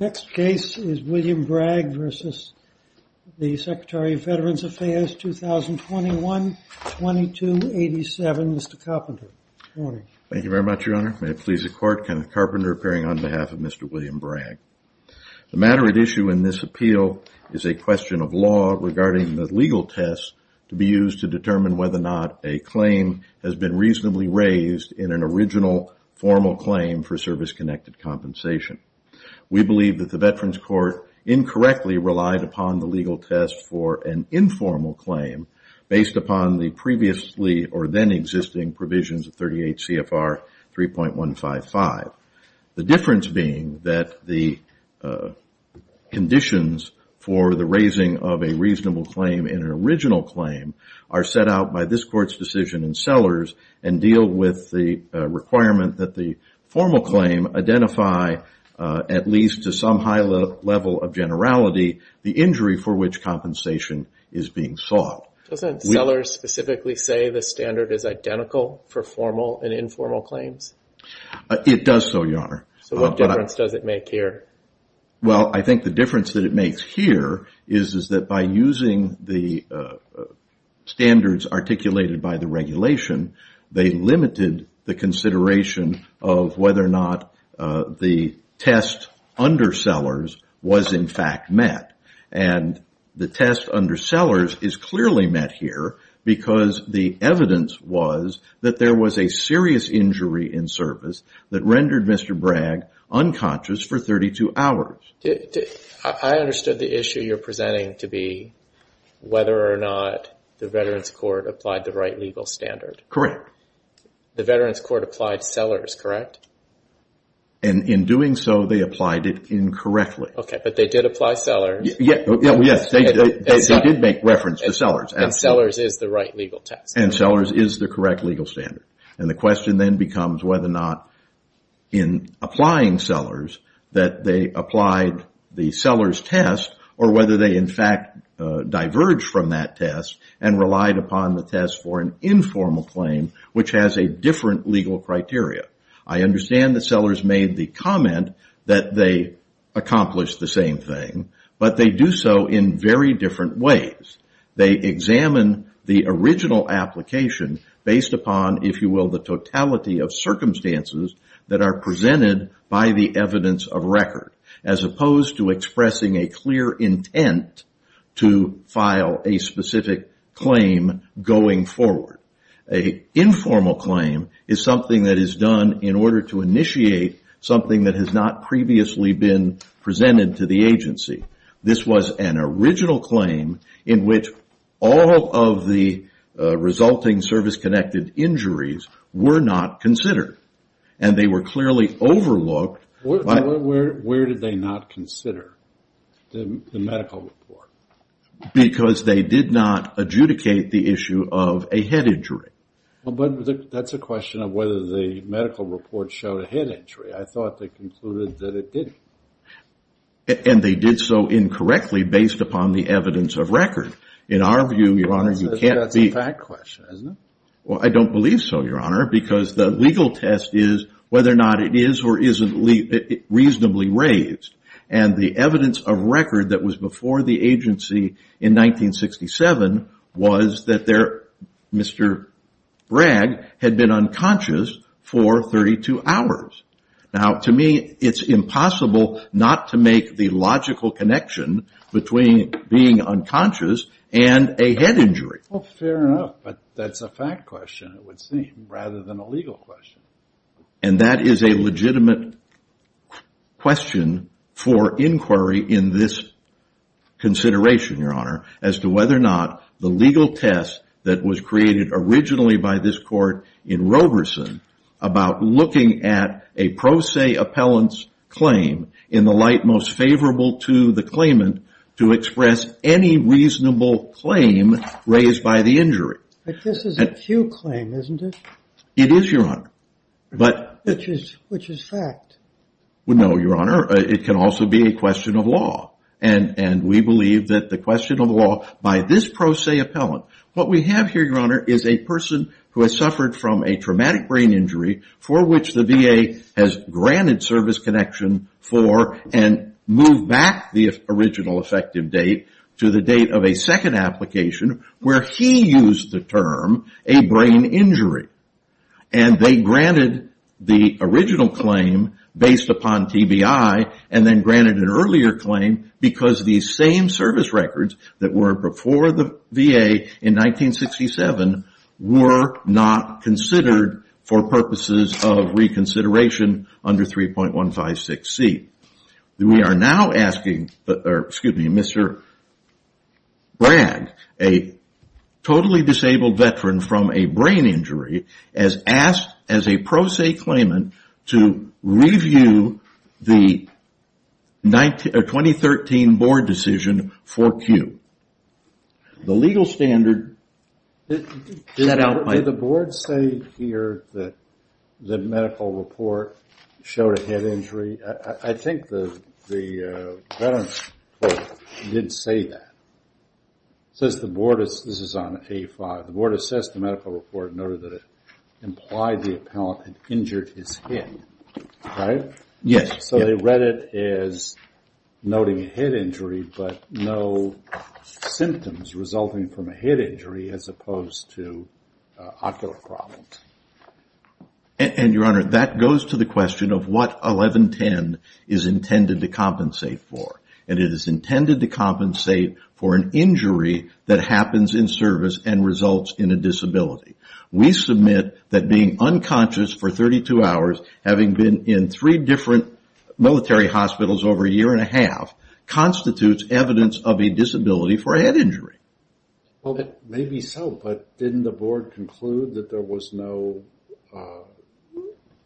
Next case is William Bragg v. Secretary of Veterans Affairs, 2021-2287. Mr. Carpenter. Thank you very much, Your Honor. May it please the Court, Kenneth Carpenter appearing on behalf of Mr. William Bragg. The matter at issue in this appeal is a question of law regarding the legal test to be used to determine whether or not a claim has been reasonably raised in an original, formal claim for service-connected compensation. We believe that the Veterans Court incorrectly relied upon the legal test for an informal claim based upon the previously or then existing provisions of 38 CFR 3.155. The difference being that the conditions for the raising of a reasonable claim in an original claim are set out by this Court's decision in Sellers and deal with the requirement that the formal claim identify, at least to some high level of generality, the injury for which compensation is being sought. Does Sellers specifically say the standard is identical for formal and informal claims? It does so, Your Honor. So what difference does it make here? Well, I think the difference that it makes here is that by using the standards articulated by the regulation, they limited the consideration of whether or not the test under Sellers was in fact met. And the test under Sellers is clearly met here because the evidence was that there was a serious injury in service that rendered Mr. Bragg unconscious for 32 hours. I understood the issue you're presenting to be whether or not the Veterans Court applied the right legal standard. Correct. The Veterans Court applied Sellers, correct? And in doing so, they applied it incorrectly. Okay, but they did apply Sellers. Yes, they did make reference to Sellers. And Sellers is the right legal test. And Sellers is the correct legal standard. And the question then becomes whether or not in applying Sellers that they applied the Sellers test or whether they in fact diverged from that test and relied upon the test for an informal claim which has a different legal criteria. I understand that Sellers made the comment that they accomplished the same thing, but they do so in very different ways. They examine the original application based upon, if you will, the totality of circumstances that are presented by the evidence of record as opposed to expressing a clear intent to file a specific claim going forward. An informal claim is something that is done in order to initiate something that has not previously been presented to the agency. This was an original claim in which all of the resulting service-connected injuries were not considered. And they were clearly overlooked. Where did they not consider the medical report? Because they did not adjudicate the issue of a head injury. But that's a question of whether the medical report showed a head injury. I thought they concluded that it didn't. And they did so incorrectly based upon the evidence of record. In our view, Your Honor, you can't be... That's a fact question, isn't it? Well, I don't believe so, Your Honor, because the legal test is whether or not it is or isn't reasonably raised. And the evidence of record that was before the agency in 1967 was that Mr. Bragg had been unconscious for 32 hours. Now, to me, it's impossible not to make the logical connection between being unconscious and a head injury. Well, fair enough, but that's a fact question, it would seem, rather than a legal question. And that is a legitimate question for inquiry in this consideration, Your Honor, as to whether or not the legal test that was created originally by this court in Roberson about looking at a pro se appellant's claim in the light most favorable to the claimant to express any reasonable claim raised by the injury. But this is a Pew claim, isn't it? It is, Your Honor, but... Which is fact. Well, no, Your Honor, it can also be a question of law. And we believe that the question of law by this pro se appellant... What we have here, Your Honor, is a person who has suffered from a traumatic brain injury for which the VA has granted service connection for and moved back the original effective date to the date of a second application where he used the term a brain injury. And they granted the original claim based upon TBI and then granted an earlier claim because these same service records that were before the VA in 1967 were not considered for purposes of reconsideration under 3.156C. We are now asking, excuse me, Mr. Bragg, a totally disabled veteran from a brain injury as asked as a pro se claimant to review the 2013 board decision for Pew. The legal standard... I think the veteran's report did say that. It says the board is... This is on A5. The board assessed the medical report and noted that it implied the appellant had injured his head. Right? Yes. So they read it as noting a head injury but no symptoms resulting from a head injury as opposed to ocular problems. And, Your Honor, that goes to the question of what 1110 is intended to compensate for. And it is intended to compensate for an injury that happens in service and results in a disability. We submit that being unconscious for 32 hours, having been in three different military hospitals over a year and a half, constitutes evidence of a disability for a head injury. Well, maybe so, but didn't the board conclude that there was no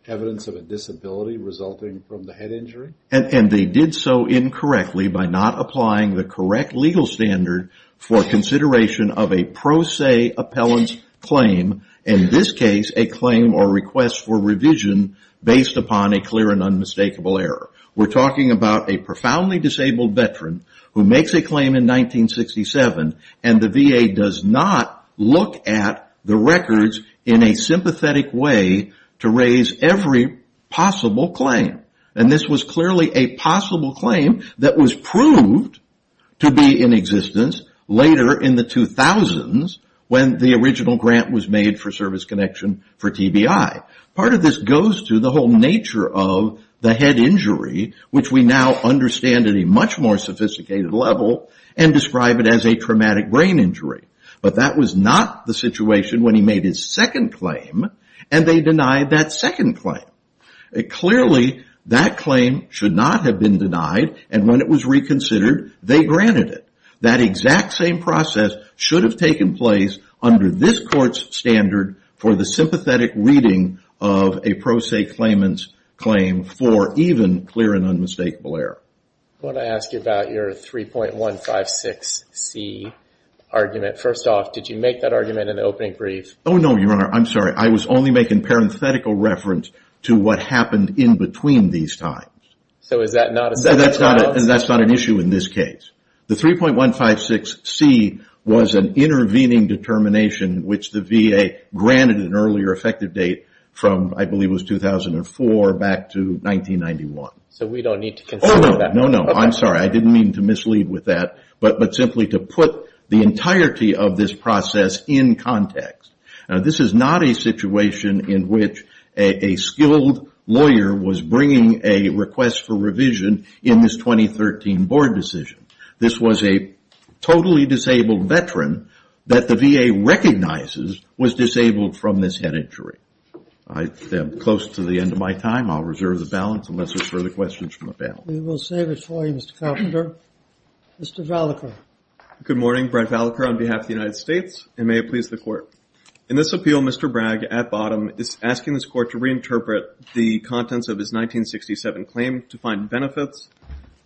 evidence of a disability resulting from the head injury? And they did so incorrectly by not applying the correct legal standard for consideration of a pro se appellant's claim, in this case a claim or request for revision based upon a clear and unmistakable error. We're talking about a profoundly disabled veteran who makes a claim in 1967 and the VA does not look at the records in a sympathetic way to raise every possible claim. And this was clearly a possible claim that was proved to be in existence later in the 2000s when the original grant was made for service connection for TBI. Part of this goes to the whole nature of the head injury, which we now understand at a much more sophisticated level, and describe it as a traumatic brain injury. But that was not the situation when he made his second claim, and they denied that second claim. Clearly, that claim should not have been denied, and when it was reconsidered, they granted it. That exact same process should have taken place under this court's standard for the sympathetic reading of a pro se claimant's claim for even clear and unmistakable error. I want to ask you about your 3.156C argument. First off, did you make that argument in the opening brief? Oh, no, Your Honor, I'm sorry. I was only making parenthetical reference to what happened in between these times. So is that not a separate trial? That's not an issue in this case. The 3.156C was an intervening determination, which the VA granted an earlier effective date from, I believe it was 2004, back to 1991. So we don't need to consider that? Oh, no, no, no. I'm sorry. I didn't mean to mislead with that, but simply to put the entirety of this process in context. This is not a situation in which a skilled lawyer was bringing a request for revision in this 2013 board decision. This was a totally disabled veteran that the VA recognizes was disabled from this head injury. I'm close to the end of my time. I'll reserve the balance unless there's further questions from the panel. We will save it for you, Mr. Carpenter. Mr. Vallecourt. Good morning. Brett Vallecourt on behalf of the United States, and may it please the Court. In this appeal, Mr. Bragg at bottom is asking this Court to reinterpret the contents of his 1967 claim to find benefits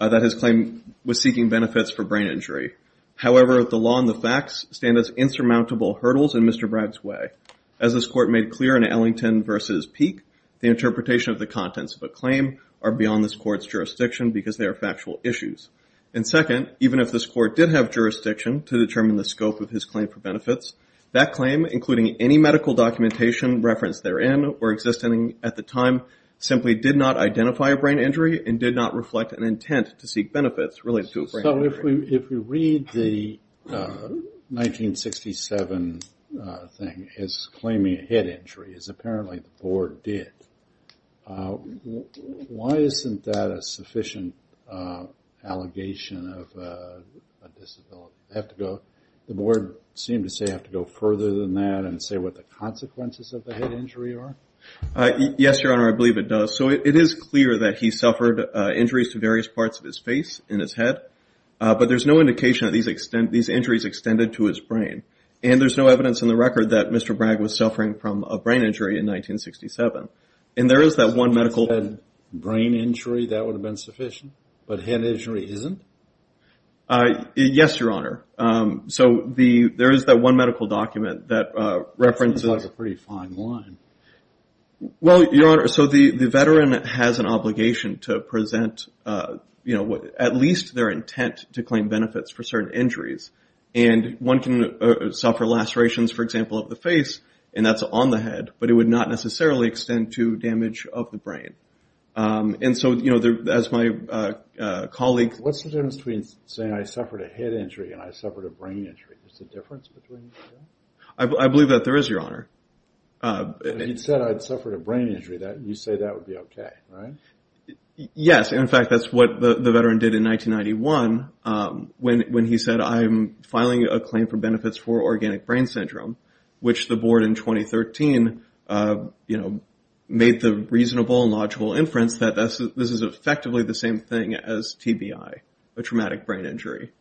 that his claim was seeking benefits for brain injury. However, the law and the facts stand as insurmountable hurdles in Mr. Bragg's way. As this Court made clear in Ellington v. Peake, the interpretation of the contents of a claim are beyond this Court's jurisdiction because they are factual issues. And second, even if this Court did have jurisdiction to determine the scope of his claim for benefits, that claim, including any medical documentation referenced therein or existing at the time, simply did not identify a brain injury and did not reflect an intent to seek benefits related to a brain injury. So if we read the 1967 thing as claiming a head injury, as apparently the Board did, why isn't that a sufficient allegation of a disability? The Board seemed to say you have to go further than that and say what the consequences of the head injury are? Yes, Your Honor, I believe it does. So it is clear that he suffered injuries to various parts of his face and his head, but there's no indication that these injuries extended to his brain. And there's no evidence in the record that Mr. Bragg was suffering from a brain injury in 1967. And there is that one medical document. Brain injury, that would have been sufficient, but head injury isn't? Yes, Your Honor. So there is that one medical document that references. That's a pretty fine line. Well, Your Honor, so the veteran has an obligation to present, you know, at least their intent to claim benefits for certain injuries. And one can suffer lacerations, for example, of the face, and that's on the head, but it would not necessarily extend to damage of the brain. And so, you know, as my colleague. What's the difference between saying I suffered a head injury and I suffered a brain injury? Is there a difference between the two? I believe that there is, Your Honor. He said I suffered a brain injury. You say that would be okay, right? Yes. In fact, that's what the veteran did in 1991 when he said I'm filing a claim for benefits for organic brain syndrome, which the board in 2013, you know, made the reasonable and logical inference that this is effectively the same thing as TBI, a traumatic brain injury.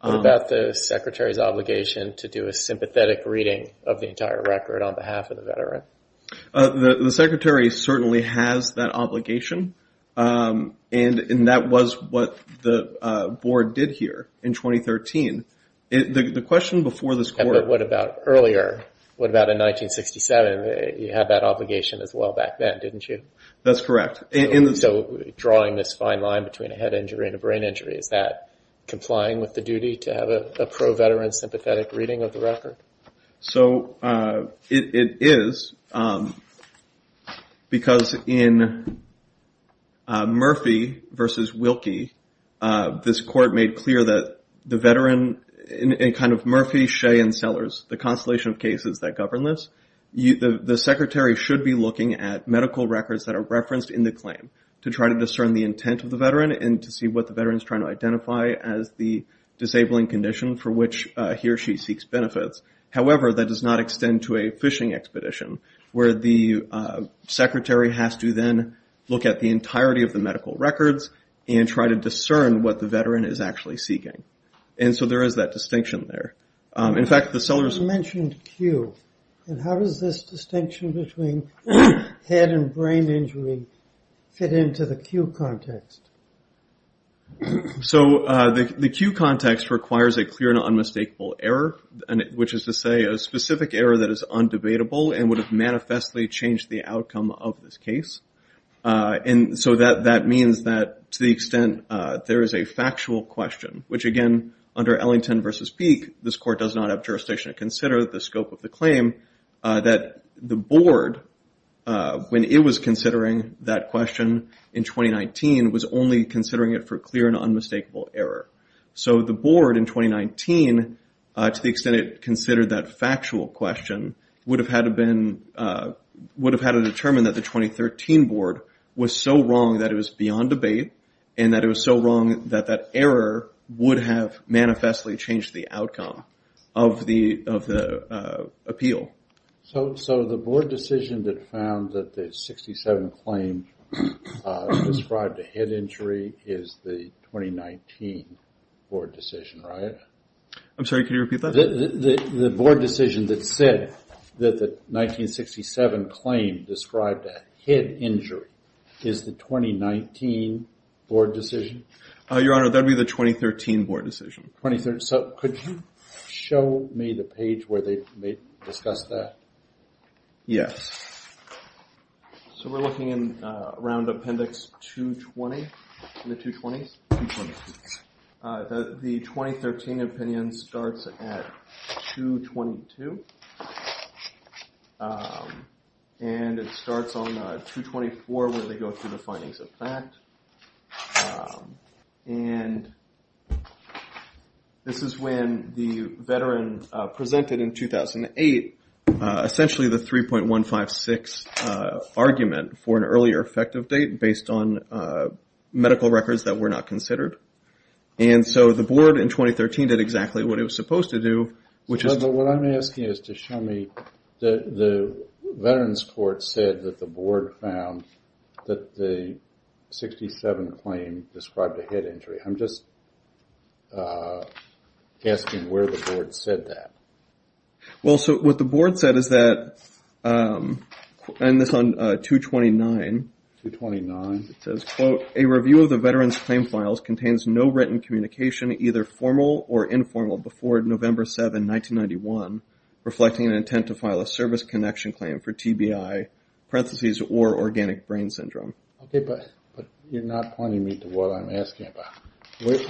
What about the secretary's obligation to do a sympathetic reading of the entire record on behalf of the veteran? The secretary certainly has that obligation, and that was what the board did here in 2013. The question before this court. What about earlier? What about in 1967? You had that obligation as well back then, didn't you? That's correct. So drawing this fine line between a head injury and a brain injury, is that complying with the duty to have a pro-veteran sympathetic reading of the record? So it is because in Murphy v. Wilkie, this court made clear that the veteran in kind of Murphy, Shea, and Sellers, the constellation of cases that govern this, the secretary should be looking at medical records that are referenced in the claim to try to discern the intent of the veteran and to see what the veteran is trying to identify as the disabling condition for which he or she seeks benefits. However, that does not extend to a fishing expedition where the secretary has to then look at the entirety of the medical records and try to discern what the veteran is actually seeking. And so there is that distinction there. You mentioned Q. And how does this distinction between head and brain injury fit into the Q context? So the Q context requires a clear and unmistakable error, which is to say a specific error that is undebatable and would have manifestly changed the outcome of this case. And so that means that to the extent there is a factual question, which, again, under Ellington v. Peek, this court does not have jurisdiction to consider the scope of the claim, that the board, when it was considering that question in 2019, was only considering it for clear and unmistakable error. So the board in 2019, to the extent it considered that factual question, would have had to determine that the 2013 board was so wrong that it was beyond debate and that it was so wrong that that error would have manifestly changed the outcome of the appeal. So the board decision that found that the 1967 claim described a head injury is the 2019 board decision, right? I'm sorry, can you repeat that? The board decision that said that the 1967 claim described a head injury is the 2019 board decision? Your Honor, that would be the 2013 board decision. So could you show me the page where they discussed that? Yes. So we're looking around Appendix 220. The 2013 opinion starts at 222. And it starts on 224 where they go through the findings of fact. And this is when the veteran presented in 2008, essentially the 3.156 argument for an earlier effective date based on medical records that were not considered. And so the board in 2013 did exactly what it was supposed to do. What I'm asking is to show me the veterans court said that the board found that the 1967 claim described a head injury. I'm just asking where the board said that. Well, so what the board said is that, and this is on 229. 229. It says, quote, a review of the veterans claim files contains no written communication either formal or informal before November 7, 1991, reflecting an intent to file a service connection claim for TBI, parentheses, or organic brain syndrome. Okay, but you're not pointing me to what I'm asking about.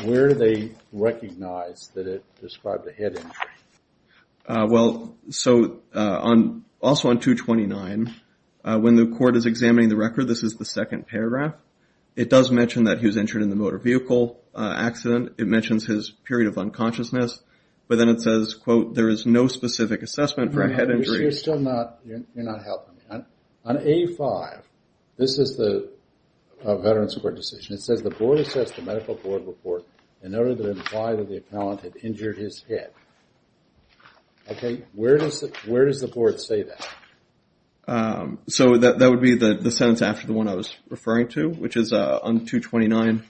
Where do they recognize that it described a head injury? Well, so also on 229, when the court is examining the record, this is the second paragraph. It does mention that he was injured in the motor vehicle accident. It mentions his period of unconsciousness. But then it says, quote, there is no specific assessment for a head injury. You're still not helping me. On A5, this is the veterans court decision. It says the board assessed the medical board report in order to imply that the appellant had injured his head. Okay, where does the board say that? So that would be the sentence after the one I was referring to, which is on 229.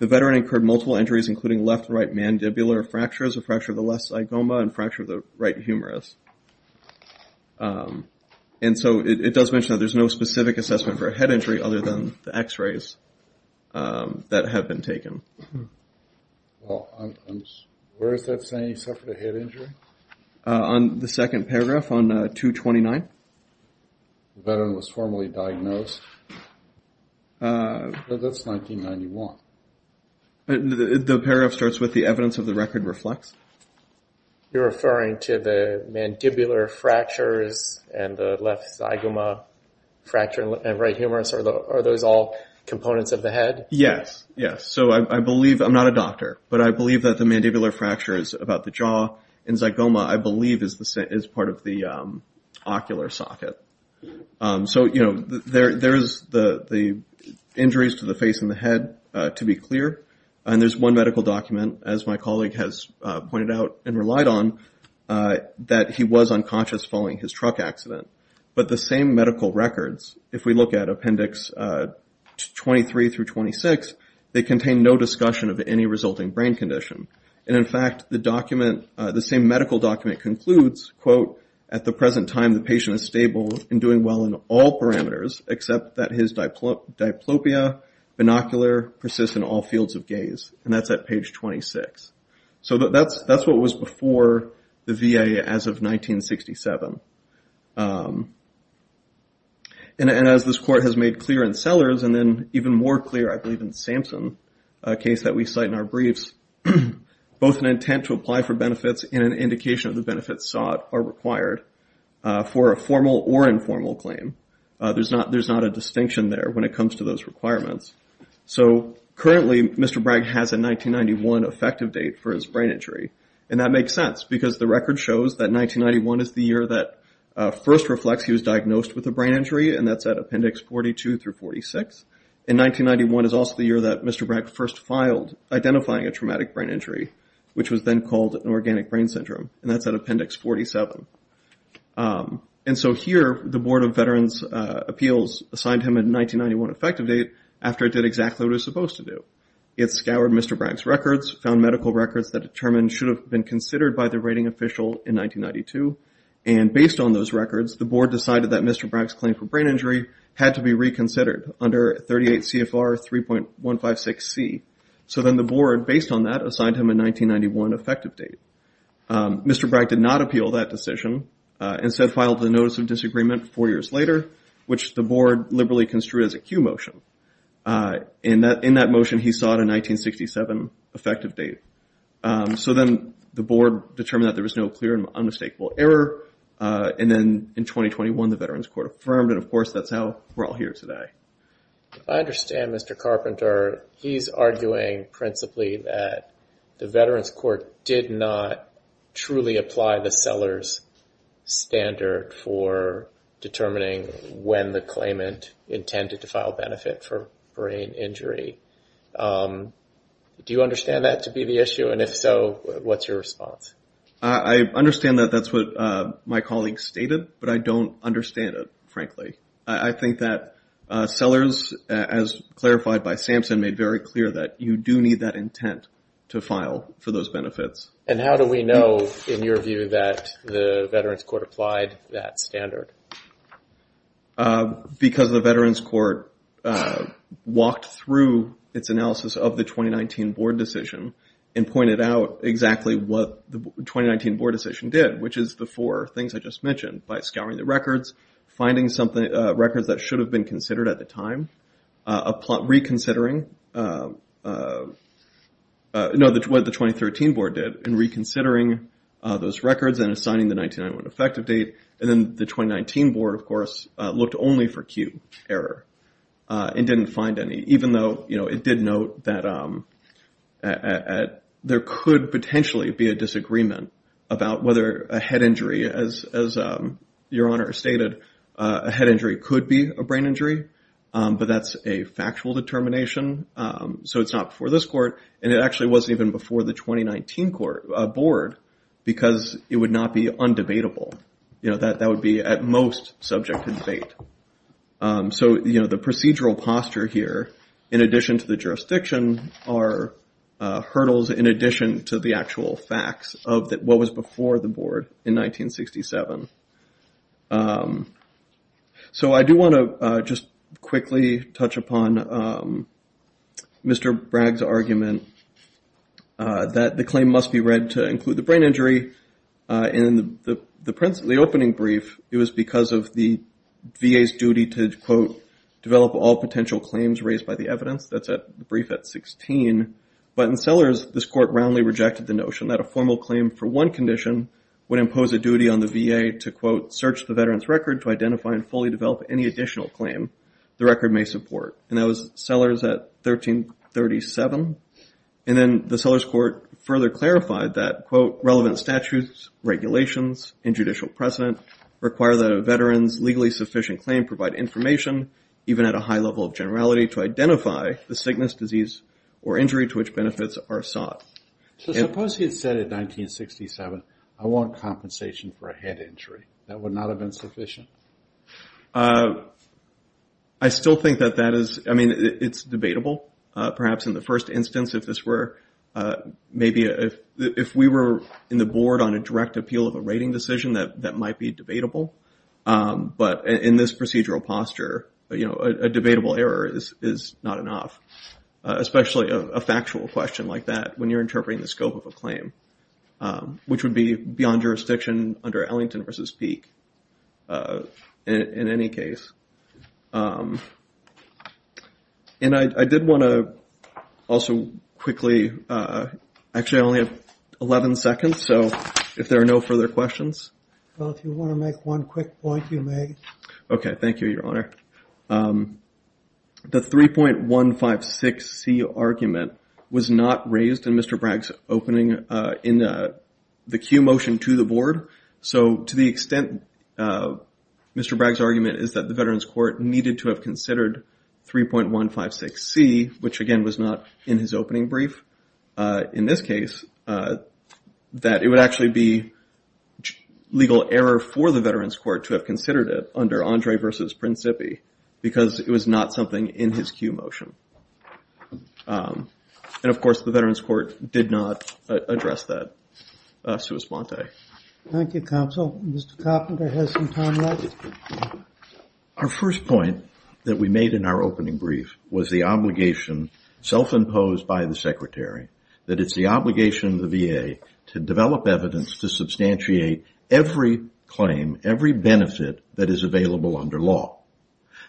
The veteran incurred multiple injuries, including left right mandibular fractures, a fracture of the left side goma, and a fracture of the right humerus. And so it does mention that there's no specific assessment for a head injury other than the x-rays that have been taken. Well, where is that saying he suffered a head injury? On the second paragraph on 229. The veteran was formally diagnosed. That's 1991. The paragraph starts with the evidence of the record reflects. You're referring to the mandibular fractures and the left side goma fracture and right humerus. Are those all components of the head? Yes, yes. So I believe, I'm not a doctor, but I believe that the mandibular fracture is about the jaw, and zygoma, I believe, is part of the ocular socket. So, you know, there is the injuries to the face and the head, to be clear, and there's one medical document, as my colleague has pointed out and relied on, that he was unconscious following his truck accident. But the same medical records, if we look at Appendix 23 through 26, they contain no discussion of any resulting brain condition. And, in fact, the same medical document concludes, quote, at the present time the patient is stable and doing well in all parameters except that his diplopia, binocular, persists in all fields of gaze. And that's at page 26. So that's what was before the VA as of 1967. And as this court has made clear in Sellers, and then even more clear, I believe, in Samson, a case that we cite in our briefs, both an intent to apply for benefits and an indication of the benefits sought or required for a formal or informal claim. There's not a distinction there when it comes to those requirements. So currently Mr. Bragg has a 1991 effective date for his brain injury, and that makes sense because the record shows that 1991 is the year that first reflects he was diagnosed with a brain injury, and that's at Appendix 42 through 46. And 1991 is also the year that Mr. Bragg first filed identifying a traumatic brain injury, which was then called an organic brain syndrome, and that's at Appendix 47. And so here the Board of Veterans' Appeals assigned him a 1991 effective date after it did exactly what it was supposed to do. It scoured Mr. Bragg's records, found medical records that determined should have been considered by the rating official in 1992, and based on those records the board decided that Mr. Bragg's claim for brain injury had to be reconsidered under 38 CFR 3.156C. So then the board, based on that, assigned him a 1991 effective date. Mr. Bragg did not appeal that decision and instead filed a notice of disagreement four years later, which the board liberally construed as a cue motion. In that motion he sought a 1967 effective date. So then the board determined that there was no clear and unmistakable error, and then in 2021 the Veterans Court affirmed, and of course that's how we're all here today. I understand, Mr. Carpenter. He's arguing principally that the Veterans Court did not truly apply the seller's standard for determining when the claimant intended to file benefit for brain injury. Do you understand that to be the issue? And if so, what's your response? I understand that that's what my colleague stated, but I don't understand it, frankly. I think that sellers, as clarified by Sampson, made very clear that you do need that intent to file for those benefits. And how do we know, in your view, that the Veterans Court applied that standard? Because the Veterans Court walked through its analysis of the 2019 board decision and pointed out exactly what the 2019 board decision did, which is the four things I just mentioned, by scouring the records, finding records that should have been considered at the time, reconsidering what the 2013 board did, and reconsidering those records and assigning the 1991 effective date. And then the 2019 board, of course, looked only for cue error and didn't find any, even though it did note that there could potentially be a disagreement about whether a head injury, as Your Honor stated, a head injury could be a brain injury. But that's a factual determination. So it's not before this court, and it actually wasn't even before the 2019 board because it would not be undebatable. That would be, at most, subject to debate. So, you know, the procedural posture here, in addition to the jurisdiction, are hurdles in addition to the actual facts of what was before the board in 1967. So I do want to just quickly touch upon Mr. Bragg's argument that the claim must be read to include the brain injury. In the opening brief, it was because of the VA's duty to, quote, develop all potential claims raised by the evidence. That's a brief at 16. But in Sellers, this court roundly rejected the notion that a formal claim for one condition would impose a duty on the VA to, quote, search the veteran's record to identify and fully develop any additional claim the record may support. And that was Sellers at 1337. And then the Sellers court further clarified that, quote, relevant statutes, regulations, and judicial precedent require that a veteran's legally sufficient claim provide information, even at a high level of generality, to identify the sickness, disease, or injury to which benefits are sought. So suppose he had said in 1967, I want compensation for a head injury. That would not have been sufficient? I still think that that is, I mean, it's debatable. Perhaps in the first instance if this were maybe if we were in the board on a direct appeal of a rating decision, that might be debatable. But in this procedural posture, you know, a debatable error is not enough, especially a factual question like that when you're interpreting the scope of a claim, which would be beyond jurisdiction under Ellington v. Peek in any case. And I did want to also quickly, actually I only have 11 seconds, so if there are no further questions. Well, if you want to make one quick point, you may. Okay. Thank you, Your Honor. The 3.156C argument was not raised in Mr. Bragg's opening in the cue motion to the board. So to the extent Mr. Bragg's argument is that the Veterans Court needed to have considered 3.156C, which again was not in his opening brief in this case, that it would actually be legal error for the Veterans Court to have considered it under Andre v. Principi because it was not something in his cue motion. And, of course, the Veterans Court did not address that. Thank you, Counsel. Mr. Coppinger has some time left. Our first point that we made in our opening brief was the obligation self-imposed by the Secretary that it's the obligation of the VA to develop evidence to substantiate every claim, every benefit that is available under law.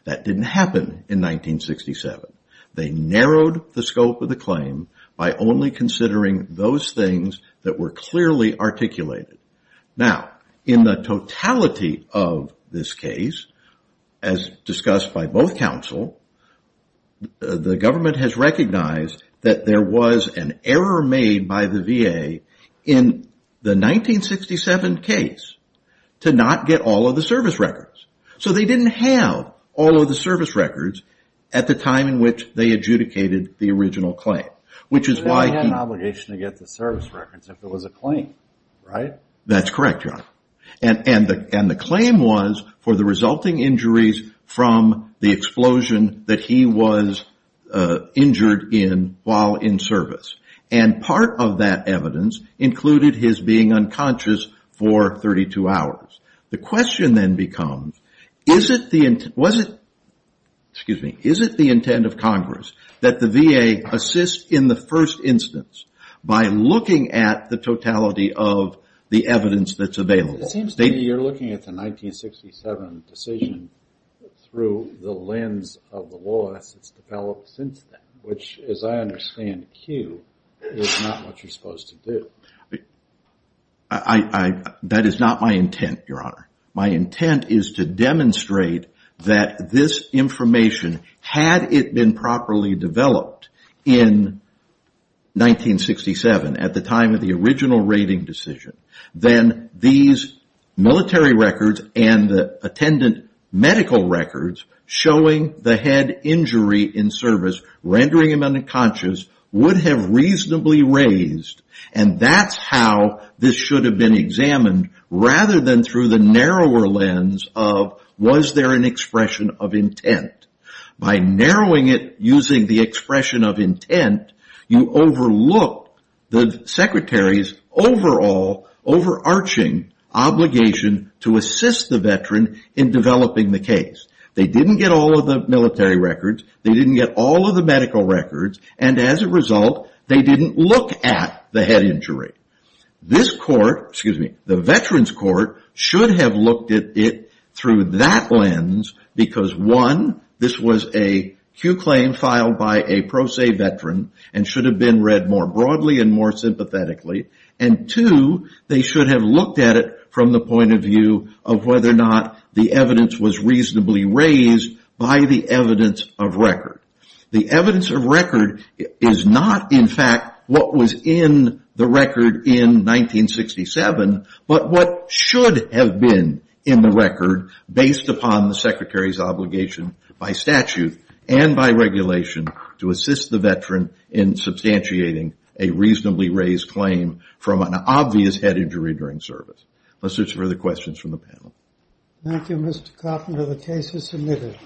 That didn't happen in 1967. They narrowed the scope of the claim by only considering those things that were clearly articulated. Now, in the totality of this case, as discussed by both counsel, the government has recognized that there was an error made by the VA in the 1967 case to not get all of the service records. So they didn't have all of the service records at the time in which they adjudicated the original claim, which is why he... He had an obligation to get the service records if it was a claim, right? That's correct, John. And the claim was for the resulting injuries from the explosion that he was injured in while in service. And part of that evidence included his being unconscious for 32 hours. The question then becomes, is it the intent of Congress that the VA assist in the first instance by looking at the totality of the evidence that's available? It seems to me you're looking at the 1967 decision through the lens of the law as it's developed since then, which, as I understand, Q, is not what you're supposed to do. That is not my intent, Your Honor. My intent is to demonstrate that this information, had it been properly developed in 1967, at the time of the original rating decision, then these military records and the attendant medical records showing the head injury in service, rendering him unconscious, would have reasonably raised and that's how this should have been examined rather than through the narrower lens of, was there an expression of intent? By narrowing it using the expression of intent, you overlook the Secretary's overall, overarching obligation to assist the veteran in developing the case. They didn't get all of the military records. They didn't get all of the medical records. And as a result, they didn't look at the head injury. This court, excuse me, the Veterans Court should have looked at it through that lens because, one, this was a Q claim filed by a pro se veteran and should have been read more broadly and more sympathetically, and two, they should have looked at it from the point of view of whether or not the evidence was reasonably raised by the evidence of record. The evidence of record is not, in fact, what was in the record in 1967, but what should have been in the record based upon the Secretary's obligation by statute and by regulation to assist the veteran in substantiating a reasonably raised claim from an obvious head injury during service. Let's search for the questions from the panel. Thank you, Mr. Coffman. The case is submitted.